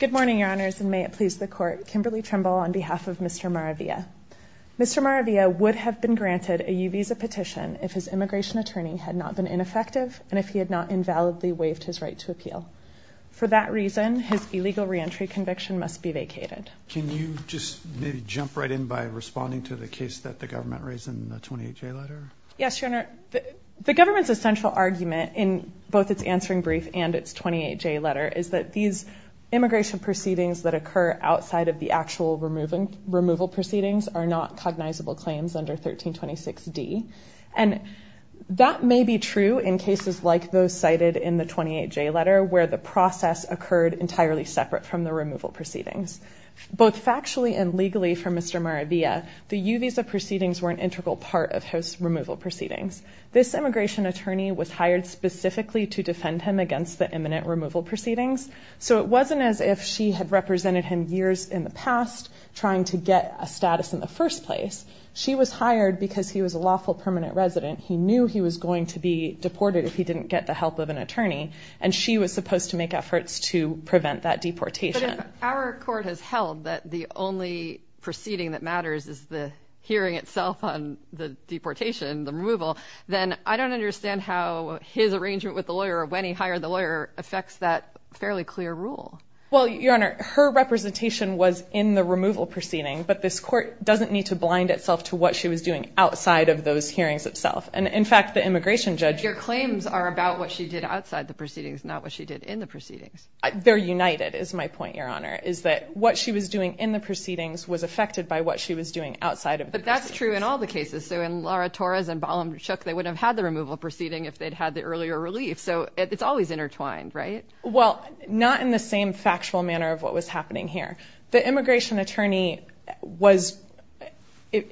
Good morning, Your Honors, and may it please the Court, Kimberly Trimble on behalf of Mr. Maravilla. Mr. Maravilla would have been granted a U-Visa petition if his immigration attorney had not been ineffective and if he had not invalidly waived his right to appeal. For that reason, his illegal reentry conviction must be vacated. Can you just maybe jump right in by responding to the case that the government raised in the 28-J letter? Yes, Your Honor, the government's essential argument in both its answering brief and its 28-J letter is that these immigration proceedings that occur outside of the actual removal proceedings are not cognizable claims under 1326D. And that may be true in cases like those cited in the 28-J letter where the process occurred entirely separate from the removal proceedings. Both factually and legally for Mr. Maravilla, the U-Visa proceedings were an integral part of his removal proceedings. This immigration attorney was hired specifically to defend him against the imminent removal proceedings, so it wasn't as if she had represented him years in the past trying to get a status in the first place. She was hired because he was a lawful permanent resident. He knew he was going to be deported if he didn't get the help of an attorney, and she was supposed to make efforts to prevent that deportation. If our court has held that the only proceeding that matters is the hearing itself on the deportation, the removal, then I don't understand how his arrangement with the lawyer or when he hired the lawyer affects that fairly clear rule. Well, Your Honor, her representation was in the removal proceedings, but this court doesn't need to blind itself to what she was doing outside of those hearings itself. And, in fact, the immigration judge... Your claims are about what she did outside the proceedings, not what she did in the proceedings. They're united, is my point, Your Honor, is that what she was doing in the proceedings was affected by what she was doing outside of the proceedings. But that's true in all the cases. So in Laura Torres and Balam Shook, they wouldn't have had the removal proceeding if they'd had the earlier relief. So it's always intertwined, right? Well, not in the same factual manner of what was happening here. The immigration attorney was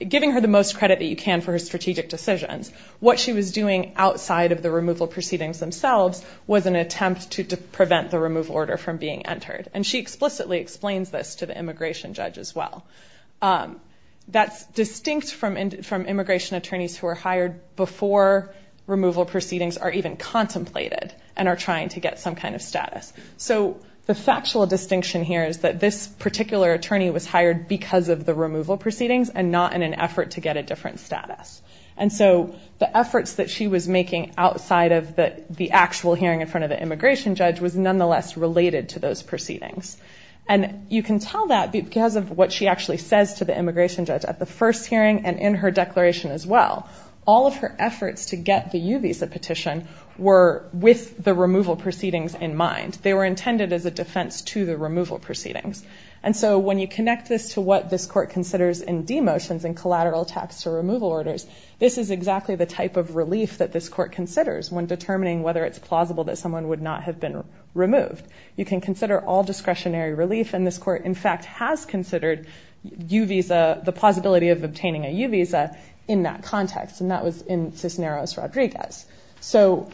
giving her the most credit that you can for her strategic decisions. What she was doing outside of the removal proceedings themselves was an attempt to prevent the removal order from being entered. And she explicitly explains this to the immigration judge as well. That's distinct from immigration attorneys who are hired before removal proceedings are even contemplated and are trying to get some kind of status. So the factual distinction here is that this particular attorney was hired because of the removal proceedings and not in an effort to get a different status. And so the efforts that she was making outside of the actual hearing in front of the immigration judge was nonetheless related to those proceedings. And you can tell that because of what she actually says to the immigration judge at the first hearing and in her declaration as well. All of her efforts to get the U-Visa petition were with the removal proceedings in mind. They were intended as a defense to the removal proceedings. And so when you connect this to what this court considers in demotions and collateral tax to removal orders, this is exactly the type of relief that this court considers when determining whether it's plausible that someone would not have been removed. You can consider all discretionary relief. And this court, in fact, has considered the plausibility of obtaining a U-Visa in that context. And that was in Cisneros-Rodriguez. So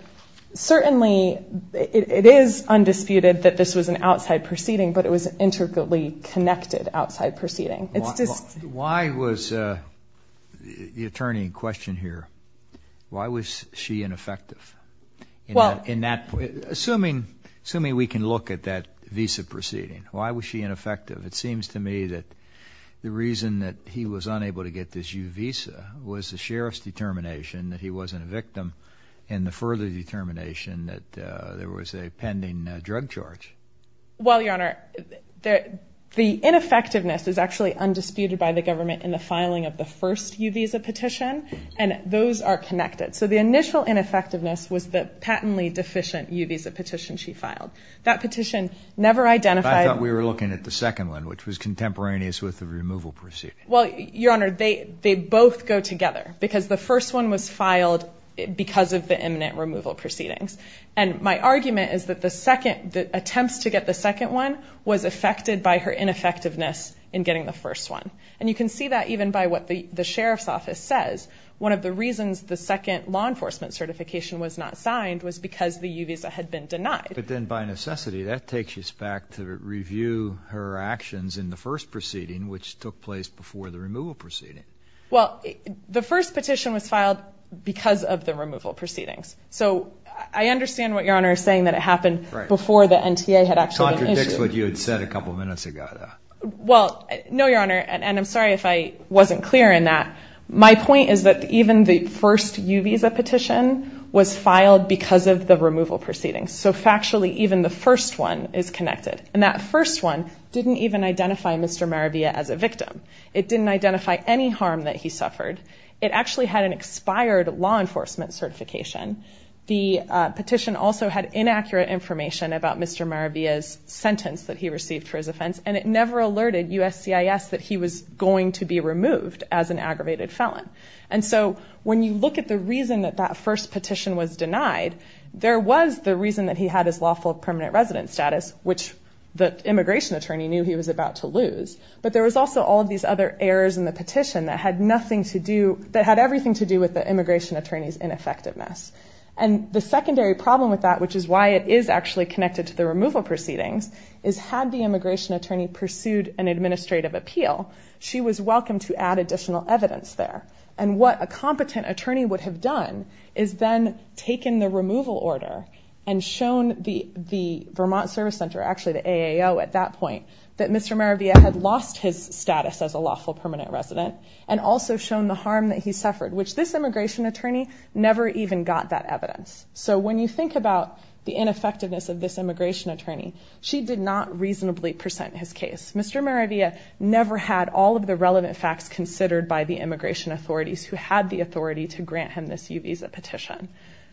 certainly it is undisputed that this was an outside proceeding, but it was an intricately connected outside proceeding. Why was the attorney in question here, why was she ineffective? Assuming we can look at that visa proceeding, why was she ineffective? It seems to me that the reason that he was unable to get this U-Visa was the sheriff's determination that he wasn't a victim and the further determination that there was a pending drug charge. Well, Your Honor, the ineffectiveness is actually undisputed by the government in the filing of the first U-Visa petition, and those are connected. So the initial ineffectiveness was the patently deficient U-Visa petition she filed. That petition never identified— I thought we were looking at the second one, which was contemporaneous with the removal proceeding. Well, Your Honor, they both go together, because the first one was filed because of the imminent removal proceedings. And my argument is that the attempt to get the second one was affected by her ineffectiveness in getting the first one. And you can see that even by what the sheriff's office says. One of the reasons the second law enforcement certification was not signed was because the U-Visa had been denied. But then by necessity, that takes us back to review her actions in the first proceeding, which took place before the removal proceeding. Well, the first petition was filed because of the removal proceedings. So I understand what Your Honor is saying, that it happened before the NTA had actually been issued. It contradicts what you had said a couple minutes ago. Well, no, Your Honor, and I'm sorry if I wasn't clear in that. My point is that even the first U-Visa petition was filed because of the removal proceedings. So factually, even the first one is connected. And that first one didn't even identify Mr. Maravilla as a victim. It didn't identify any harm that he suffered. It actually had an expired law enforcement certification. The petition also had inaccurate information about Mr. Maravilla's sentence that he received for his offense. And it never alerted USCIS that he was going to be removed as an aggravated felon. And so when you look at the reason that that first petition was denied, there was the reason that he had his lawful permanent residence status, which the immigration attorney knew he was about to lose. But there was also all of these other errors in the petition that had nothing to do, that had everything to do with the immigration attorney's ineffectiveness. And the secondary problem with that, which is why it is actually connected to the removal proceedings, is had the immigration attorney pursued an administrative appeal, she was welcome to add additional evidence there. And what a competent attorney would have done is then taken the removal order and shown the Vermont Service Center, actually the AAO at that point, that Mr. Maravilla had lost his status as a lawful permanent resident, and also shown the harm that he suffered, which this immigration attorney never even got that evidence. So when you think about the ineffectiveness of this immigration attorney, she did not reasonably present his case. Mr. Maravilla never had all of the relevant facts considered by the immigration authorities who had the authority to grant him this U-Visa petition.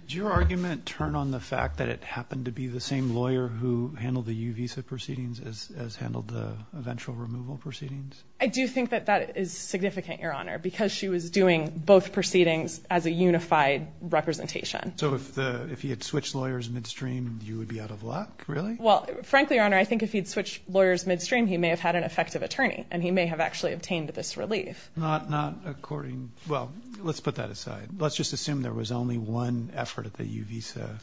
Did your argument turn on the fact that it happened to be the same lawyer who handled the U-Visa proceedings as handled the eventual removal proceedings? I do think that that is significant, Your Honor, because she was doing both proceedings as a unified representation. So if he had switched lawyers midstream, you would be out of luck, really? Well, frankly, Your Honor, I think if he had switched lawyers midstream, he may have had an effective attorney, and he may have actually obtained this relief. Not according, well, let's put that aside. Let's just assume there was only one effort at the U-Visa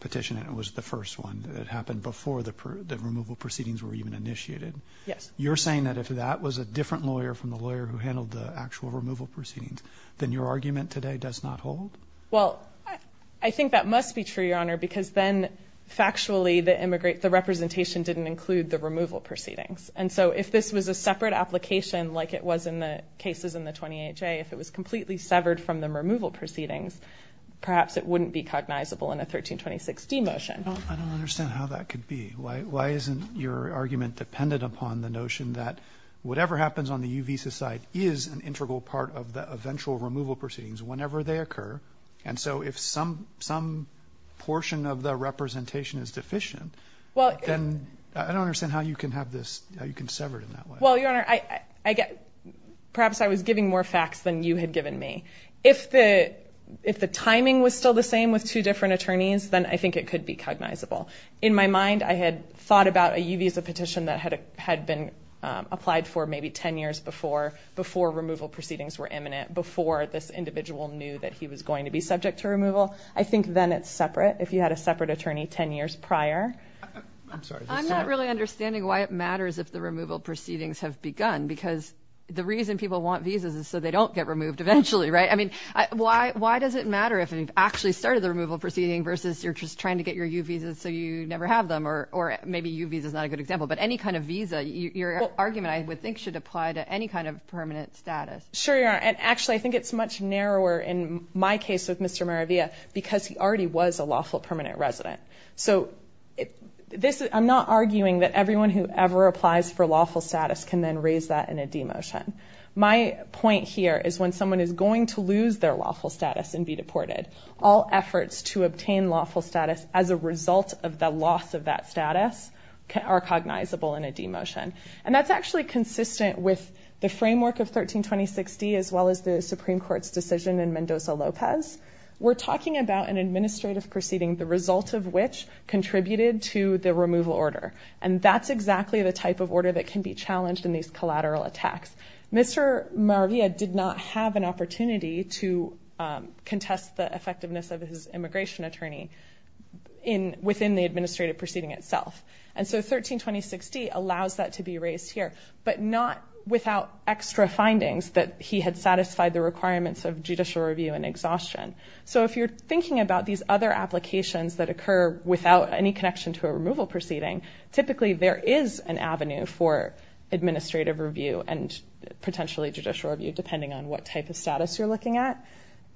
petition, and it was the first one that happened before the removal proceedings were even initiated. Yes. You're saying that if that was a different lawyer from the lawyer who handled the actual removal proceedings, then your argument today does not hold? Well, I think that must be true, Your Honor, because then factually the representation didn't include the removal proceedings. And so if this was a separate application like it was in the cases in the 28-J, if it was completely severed from the removal proceedings, perhaps it wouldn't be cognizable in a 1326-D motion. I don't understand how that could be. Why isn't your argument dependent upon the notion that whatever happens on the U-Visa side is an integral part of the eventual removal proceedings whenever they occur, and so if some portion of the representation is deficient, then I don't understand how you can sever it in that way. Well, Your Honor, perhaps I was giving more facts than you had given me. If the timing was still the same with two different attorneys, then I think it could be cognizable. In my mind, I had thought about a U-Visa petition that had been applied for maybe 10 years before removal proceedings were imminent, before this individual knew that he was going to be subject to removal. I think then it's separate if you had a separate attorney 10 years prior. I'm sorry. I'm not really understanding why it matters if the removal proceedings have begun because the reason people want visas is so they don't get removed eventually, right? I mean, why does it matter if you've actually started the removal proceeding versus you're just trying to get your U-Visas so you never have them, or maybe U-Visa is not a good example. But any kind of visa, your argument, I would think, should apply to any kind of permanent status. Sure, Your Honor. Actually, I think it's much narrower in my case with Mr. Maravia because he already was a lawful permanent resident. I'm not arguing that everyone who ever applies for lawful status can then raise that in a demotion. My point here is when someone is going to lose their lawful status and be deported, all efforts to obtain lawful status as a result of the loss of that status are cognizable in a demotion. And that's actually consistent with the framework of 13206D as well as the Supreme Court's decision in Mendoza-Lopez. We're talking about an administrative proceeding, the result of which contributed to the removal order. And that's exactly the type of order that can be challenged in these collateral attacks. Mr. Maravia did not have an opportunity to contest the effectiveness of his immigration attorney within the administrative proceeding itself. And so 13206D allows that to be raised here, but not without extra findings that he had satisfied the requirements of judicial review and exhaustion. So if you're thinking about these other applications that occur without any connection to a removal proceeding, typically there is an avenue for administrative review and potentially judicial review depending on what type of status you're looking at.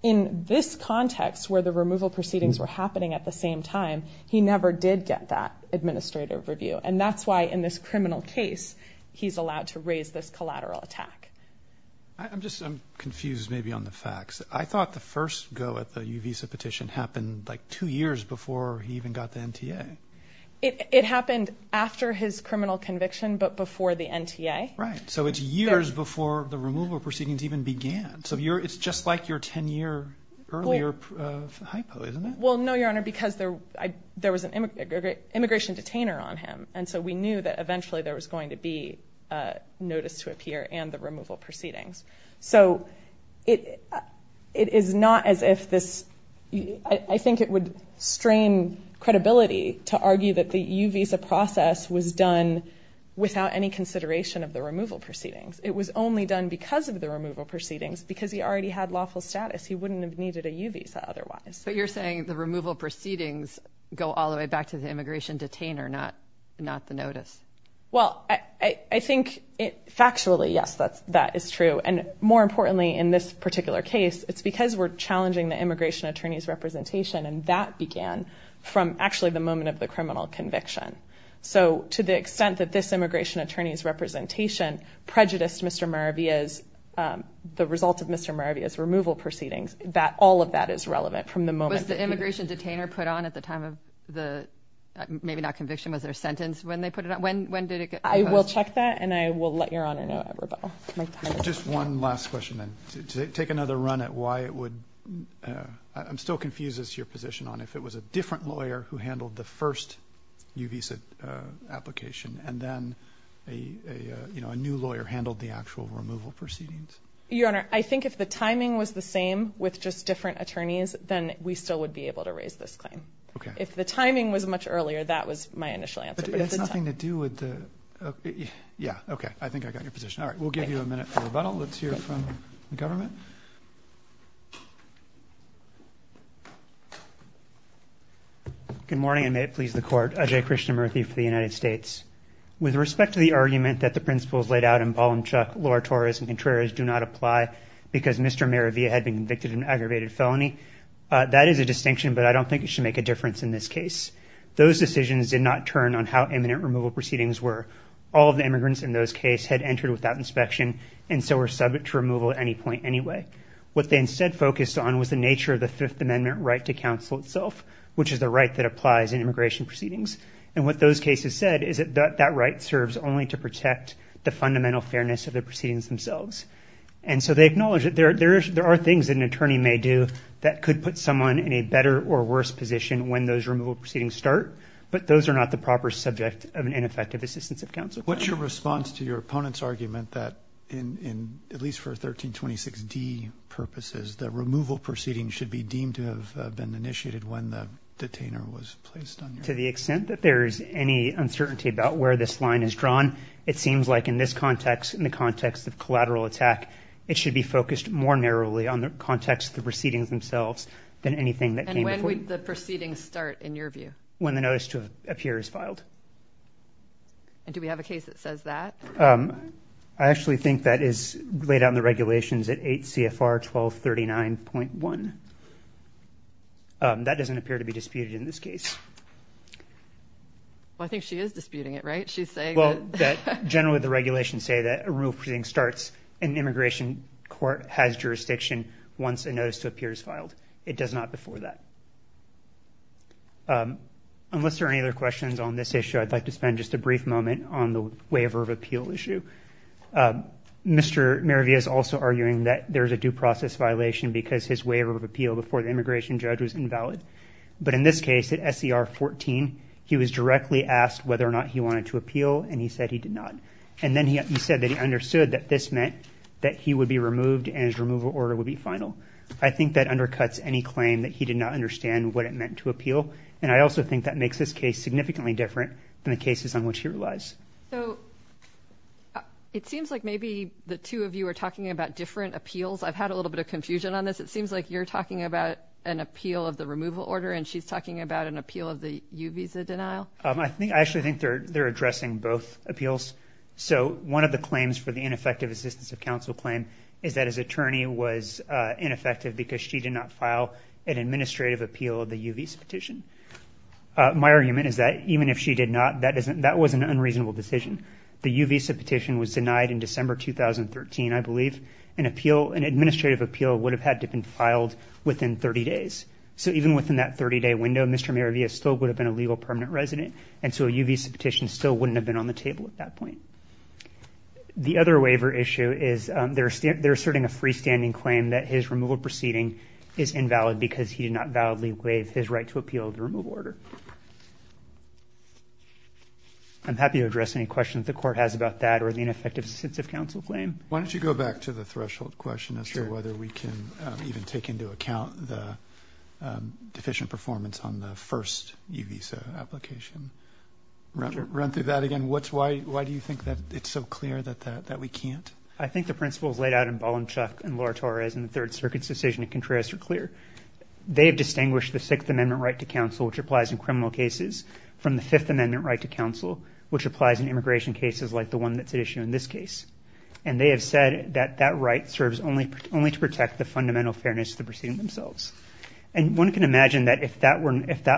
In this context where the removal proceedings were happening at the same time, he never did get that administrative review. And that's why in this criminal case he's allowed to raise this collateral attack. I'm just confused maybe on the facts. I thought the first go at the Uvisa petition happened like two years before he even got the NTA. It happened after his criminal conviction but before the NTA. Right. So it's years before the removal proceedings even began. So it's just like your 10-year earlier hypo, isn't it? Well, no, Your Honor, because there was an immigration detainer on him. And so we knew that eventually there was going to be a notice to appear and the removal proceedings. So it is not as if this, I think it would strain credibility to argue that the Uvisa process was done without any consideration of the removal proceedings. It was only done because of the removal proceedings because he already had lawful status. He wouldn't have needed a Uvisa otherwise. But you're saying the removal proceedings go all the way back to the immigration detainer, not the notice. Well, I think factually, yes, that is true. And more importantly, in this particular case, it's because we're challenging the immigration attorney's representation. And that began from actually the moment of the criminal conviction. So to the extent that this immigration attorney's representation prejudiced Mr. Maravia's, the result of Mr. Maravia's removal proceedings, that all of that is relevant from the moment. Was the immigration detainer put on at the time of the, maybe not conviction, was there a sentence when they put it on? When did it get put on? I will check that and I will let Your Honor know. Just one last question then. To take another run at why it would, I'm still confused as to your position on if it was a different lawyer who handled the first Uvisa application and then a new lawyer handled the actual removal proceedings. Your Honor, I think if the timing was the same with just different attorneys, then we still would be able to raise this claim. Okay. If the timing was much earlier, that was my initial answer. But it has nothing to do with the, yeah, okay, I think I got your position. All right, we'll give you a minute for rebuttal. Let's hear from the government. Good morning, and may it please the Court. Ajay Krishnamurthy for the United States. With respect to the argument that the principles laid out in Ballum-Chuck, Lora-Torres, and Contreras do not apply because Mr. Maravia had been convicted of an aggravated felony, that is a distinction, but I don't think it should make a difference in this case. Those decisions did not turn on how imminent removal proceedings were. All of the immigrants in those cases had entered without inspection and so were subject to removal at any point anyway. What they instead focused on was the nature of the Fifth Amendment right to counsel itself, which is the right that applies in immigration proceedings. And what those cases said is that that right serves only to protect the fundamental fairness of the proceedings themselves. And so they acknowledge that there are things that an attorney may do that could put someone in a better or worse position when those removal proceedings start, but those are not the proper subject of an ineffective assistance of counsel. What's your response to your opponent's argument that, at least for 1326D purposes, the removal proceedings should be deemed to have been initiated when the detainer was placed on your case? To the extent that there is any uncertainty about where this line is drawn, it seems like in this context, in the context of collateral attack, it should be focused more narrowly on the context of the proceedings themselves than anything that came before. And when would the proceedings start in your view? When the notice to appear is filed. And do we have a case that says that? I actually think that is laid out in the regulations at 8 CFR 1239.1. That doesn't appear to be disputed in this case. Well, I think she is disputing it, right? She's saying that generally the regulations say that a removal proceeding starts in immigration court has jurisdiction once a notice to appear is filed. It does not before that. Unless there are any other questions on this issue, I'd like to spend just a brief moment on the waiver of appeal issue. Mr. Maravia is also arguing that there is a due process violation because his waiver of appeal before the immigration judge was invalid. But in this case, at SCR 14, he was directly asked whether or not he wanted to appeal, and he said he did not. And then he said that he understood that this meant that he would be removed and his removal order would be final. I think that undercuts any claim that he did not understand what it meant to appeal. And I also think that makes this case significantly different than the cases on which he relies. So it seems like maybe the two of you are talking about different appeals. I've had a little bit of confusion on this. It seems like you're talking about an appeal of the removal order, and she's talking about an appeal of the U visa denial. I actually think they're addressing both appeals. So one of the claims for the ineffective assistance of counsel claim is that his attorney was ineffective because she did not file an administrative appeal of the U visa petition. My argument is that even if she did not, that was an unreasonable decision. The U visa petition was denied in December 2013, I believe. An administrative appeal would have had to have been filed within 30 days. So even within that 30-day window, Mr. Maravia still would have been a legal permanent resident, and so a U visa petition still wouldn't have been on the table at that point. The other waiver issue is they're asserting a freestanding claim that his removal proceeding is invalid because he did not validly waive his right to appeal the removal order. I'm happy to address any questions the Court has about that or the ineffective assistance of counsel claim. Why don't you go back to the threshold question as to whether we can even take into account the deficient performance on the first U visa application. Run through that again. Why do you think that it's so clear that we can't? I think the principles laid out in Balanchuk and Laura Torres in the Third Circuit's decision in Contreras are clear. They have distinguished the Sixth Amendment right to counsel, which applies in criminal cases, from the Fifth Amendment right to counsel, which applies in immigration cases like the one that's at issue in this case. And they have said that that right serves only to protect the fundamental fairness of the proceeding themselves. And one can imagine that if that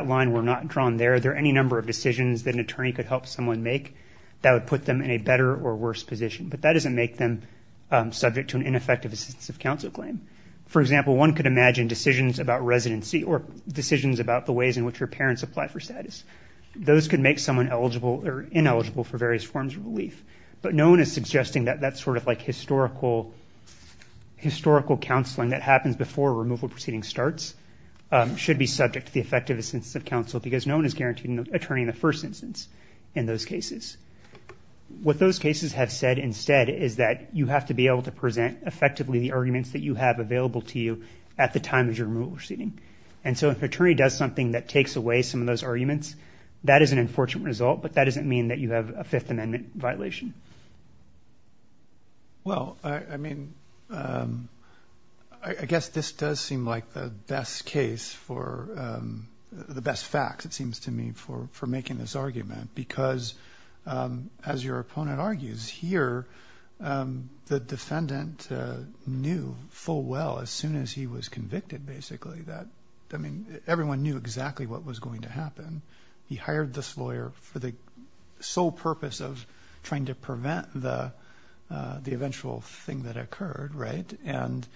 line were not drawn there, there are any number of decisions that an attorney could help someone make that would put them in a better or worse position. But that doesn't make them subject to an ineffective assistance of counsel claim. For example, one could imagine decisions about residency or decisions about the ways in which your parents apply for status. Those could make someone eligible or ineligible for various forms of relief. But no one is suggesting that that sort of like historical counseling that happens before a removal proceeding starts should be subject to the effectiveness of counsel because no one is guaranteeing an attorney in the first instance in those cases. What those cases have said instead is that you have to be able to present effectively the arguments that you have available to you at the time of your removal proceeding. And so if an attorney does something that takes away some of those arguments, that is an unfortunate result, but that doesn't mean that you have a Fifth Amendment violation. Well, I mean, I guess this does seem like the best case for the best facts, it seems to me, for making this argument. Because as your opponent argues here, the defendant knew full well as soon as he was convicted, basically, that I mean, everyone knew exactly what was going to happen. He hired this lawyer for the sole purpose of trying to prevent the eventual thing that occurred, right? And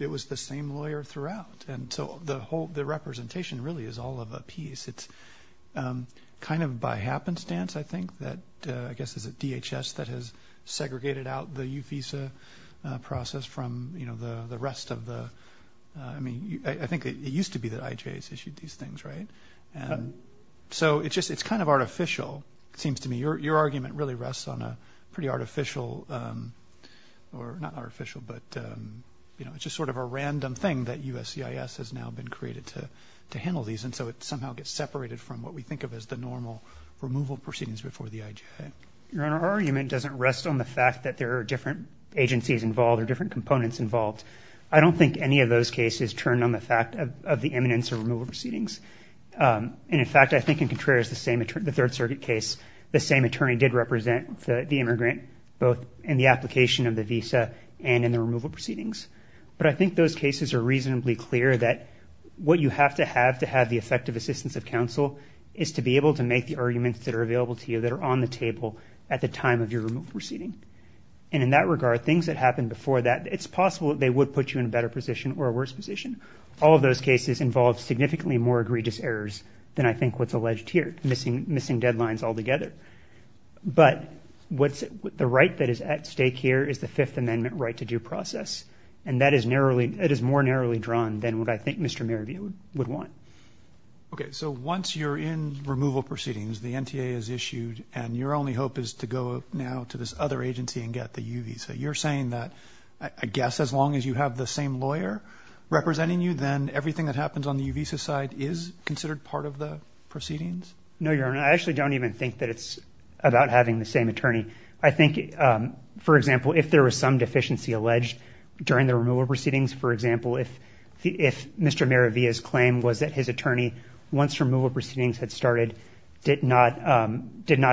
it was the same lawyer throughout. And so the representation really is all of a piece. It's kind of by happenstance, I think, that I guess it's the DHS that has segregated out the UFISA process from, you know, the rest of the, I mean, I think it used to be that IJS issued these things, right? So it's just, it's kind of artificial, it seems to me. Your argument really rests on a pretty artificial, or not artificial, but, you know, it's just sort of a random thing that USCIS has now been created to handle these. And so it somehow gets separated from what we think of as the normal removal proceedings before the IJS. Your Honor, our argument doesn't rest on the fact that there are different agencies involved or different components involved. I don't think any of those cases turn on the fact of the eminence of removal proceedings. And, in fact, I think in Contreras, the same, the Third Circuit case, the same attorney did represent the immigrant, both in the application of the visa and in the removal proceedings. But I think those cases are reasonably clear that what you have to have to have the effective assistance of counsel is to be able to make the arguments that are available to you that are on the table at the time of your removal proceeding. And in that regard, things that happened before that, it's possible that they would put you in a better position or a worse position. All of those cases involve significantly more egregious errors than I think what's alleged here, missing deadlines altogether. But what's, the right that is at stake here is the Fifth Amendment right to due process. And that is narrowly, it is more narrowly drawn than what I think Mr. Marabia would want. Okay, so once you're in removal proceedings, the NTA is issued, and your only hope is to go now to this other agency and get the U visa. You're saying that, I guess, as long as you have the same lawyer representing you, then everything that happens on the U visa side is considered part of the proceedings? No, Your Honor, I actually don't even think that it's about having the same attorney. I think, for example, if there was some deficiency alleged during the removal proceedings, for example, if Mr. Marabia's claim was that his attorney, once removal proceedings had started, did not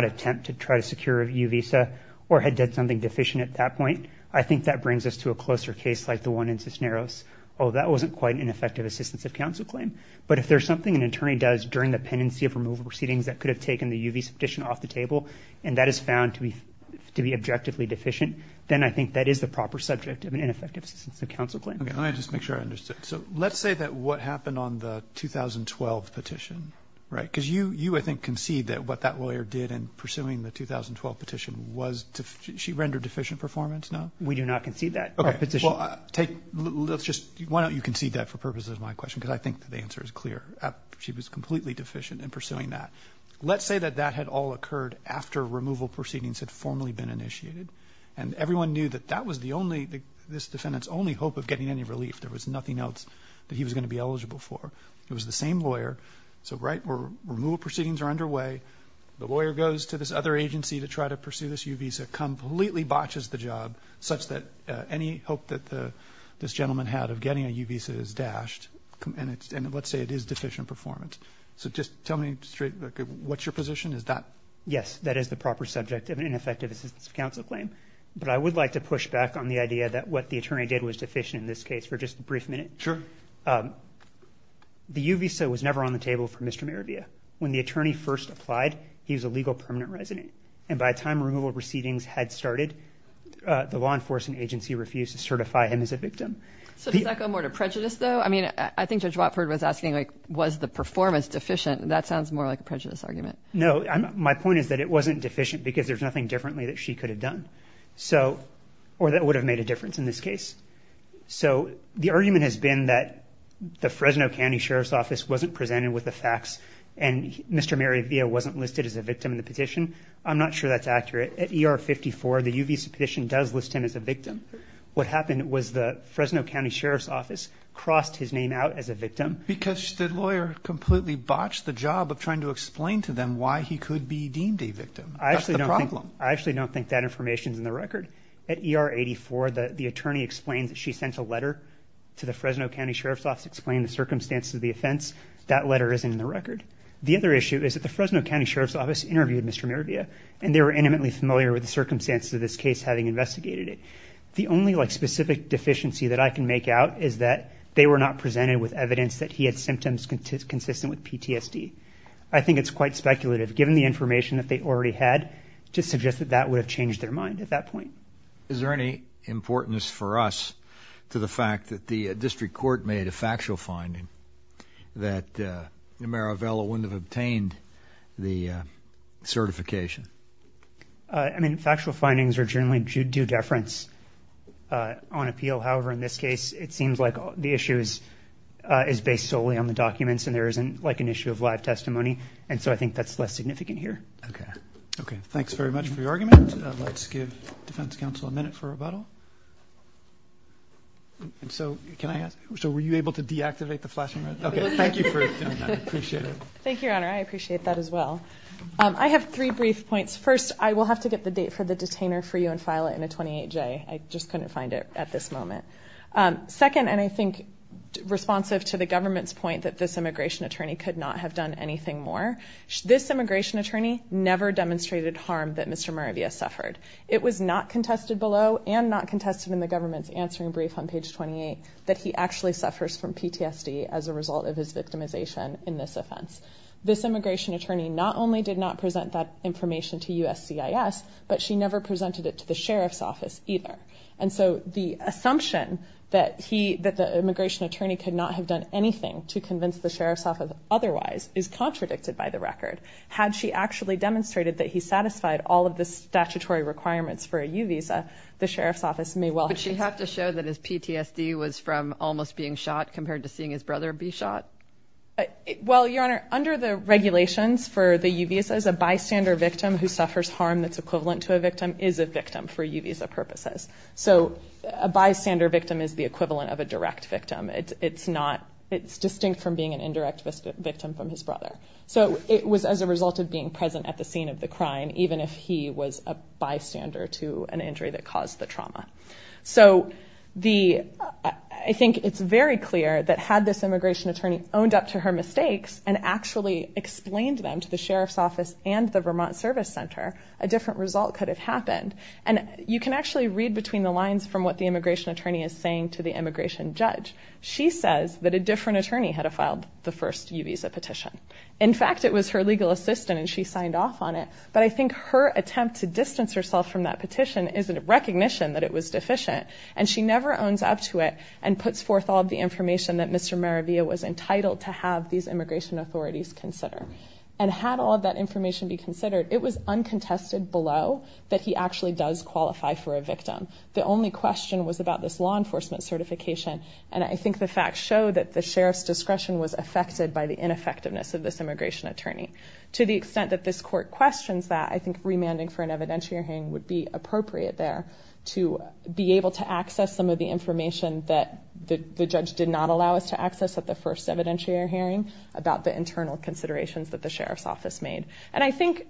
attempt to try to secure a U visa or had done something deficient at that point, I think that brings us to a closer case like the one in Cisneros. Oh, that wasn't quite an ineffective assistance of counsel claim. But if there's something an attorney does during the pendency of removal proceedings that could have taken the U visa petition off the table, and that is found to be objectively deficient, then I think that is the proper subject of an ineffective assistance of counsel claim. Okay, let me just make sure I understood. So let's say that what happened on the 2012 petition, right? Because you, I think, concede that what that lawyer did in pursuing the 2012 petition, she rendered deficient performance, no? We do not concede that petition. Okay, well, let's just, why don't you concede that for purposes of my question? Because I think the answer is clear. She was completely deficient in pursuing that. Let's say that that had all occurred after removal proceedings had formally been initiated, and everyone knew that that was the only, this defendant's only hope of getting any relief. There was nothing else that he was going to be eligible for. It was the same lawyer. So right where removal proceedings are underway, the lawyer goes to this other agency to try to pursue this U visa, completely botches the job such that any hope that this gentleman had of getting a U visa is dashed, and let's say it is deficient performance. So just tell me straight, what's your position? Is that? Yes, that is the proper subject of an ineffective assistance of counsel claim, but I would like to push back on the idea that what the attorney did was deficient in this case for just a brief minute. Sure. The U visa was never on the table for Mr. Merivia. When the attorney first applied, he was a legal permanent resident, and by the time removal proceedings had started, the law enforcement agency refused to certify him as a victim. So does that go more to prejudice, though? I mean, I think Judge Watford was asking, like, was the performance deficient? That sounds more like a prejudice argument. No. My point is that it wasn't deficient because there's nothing differently that she could have done, or that would have made a difference in this case. So the argument has been that the Fresno County Sheriff's Office wasn't presented with the facts and Mr. Merivia wasn't listed as a victim in the petition. I'm not sure that's accurate. At ER 54, the U visa petition does list him as a victim. What happened was the Fresno County Sheriff's Office crossed his name out as a victim. Because the lawyer completely botched the job of trying to explain to them why he could be deemed a victim. That's the problem. I actually don't think that information is in the record. At ER 84, the attorney explains that she sent a letter to the Fresno County Sheriff's Office explaining the circumstances of the offense. That letter isn't in the record. The other issue is that the Fresno County Sheriff's Office interviewed Mr. Merivia, and they were intimately familiar with the circumstances of this case having investigated it. The only, like, specific deficiency that I can make out is that they were not presented with evidence that he had symptoms consistent with PTSD. I think it's quite speculative, given the information that they already had, to suggest that that would have changed their mind at that point. Is there any importance for us to the fact that the district court made a factual finding that Numero Velo wouldn't have obtained the certification? I mean, factual findings are generally due deference on appeal. However, in this case, it seems like the issue is based solely on the documents and there isn't, like, an issue of live testimony, and so I think that's less significant here. Okay. Okay. Thanks very much for your argument. Let's give defense counsel a minute for rebuttal. So were you able to deactivate the flashing red light? Okay. Thank you for doing that. I appreciate it. Thank you, Your Honor. I appreciate that as well. I have three brief points. First, I will have to get the date for the detainer for you and file it in a 28-J. I just couldn't find it at this moment. Second, and I think responsive to the government's point that this immigration attorney could not have done anything more, this immigration attorney never demonstrated harm that Mr. Moravia suffered. It was not contested below and not contested in the government's answering brief on page 28 that he actually suffers from PTSD as a result of his victimization in this offense. This immigration attorney not only did not present that information to USCIS, but she never presented it to the sheriff's office either. And so the assumption that the immigration attorney could not have done anything to convince the sheriff's office otherwise is contradicted by the record. Had she actually demonstrated that he satisfied all of the statutory requirements for a U-Visa, the sheriff's office may well have said something. But she had to show that his PTSD was from almost being shot compared to seeing his brother be shot? Well, Your Honor, under the regulations for the U-Visas, a bystander victim who suffers harm that's equivalent to a victim is a victim for U-Visa purposes. So a bystander victim is the equivalent of a direct victim. It's distinct from being an indirect victim from his brother. So it was as a result of being present at the scene of the crime, even if he was a bystander to an injury that caused the trauma. So I think it's very clear that had this immigration attorney owned up to her mistakes and actually explained them to the sheriff's office and the Vermont Service Center, a different result could have happened. And you can actually read between the lines from what the immigration attorney is saying to the immigration judge. She says that a different attorney had to file the first U-Visa petition. In fact, it was her legal assistant, and she signed off on it. But I think her attempt to distance herself from that petition is a recognition that it was deficient. And she never owns up to it and puts forth all of the information that Mr. Maravia was entitled to have these immigration authorities consider. And had all of that information be considered, it was uncontested below that he actually does qualify for a victim. The only question was about this law enforcement certification. And I think the facts show that the sheriff's discretion was affected by the ineffectiveness of this immigration attorney. To the extent that this court questions that, I think remanding for an evidentiary hearing would be appropriate there to be able to access some of the information that the judge did not allow us to access at the first evidentiary hearing about the internal considerations that the sheriff's office made. And I think,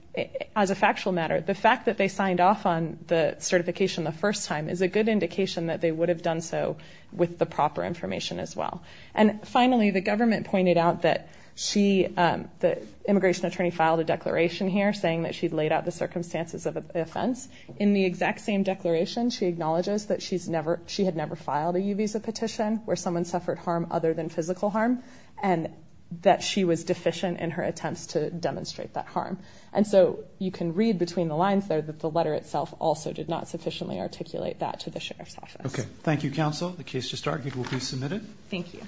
as a factual matter, the fact that they signed off on the certification the first time is a good indication that they would have done so with the proper information as well. And finally, the government pointed out that the immigration attorney filed a declaration here saying that she laid out the circumstances of the offense. In the exact same declaration, she acknowledges that she had never filed a U-Visa petition where someone suffered harm other than physical harm. And that she was deficient in her attempts to demonstrate that harm. And so you can read between the lines there that the letter itself also did not sufficiently articulate that to the sheriff's office. Okay. Thank you, counsel. The case just argued will be submitted. Thank you.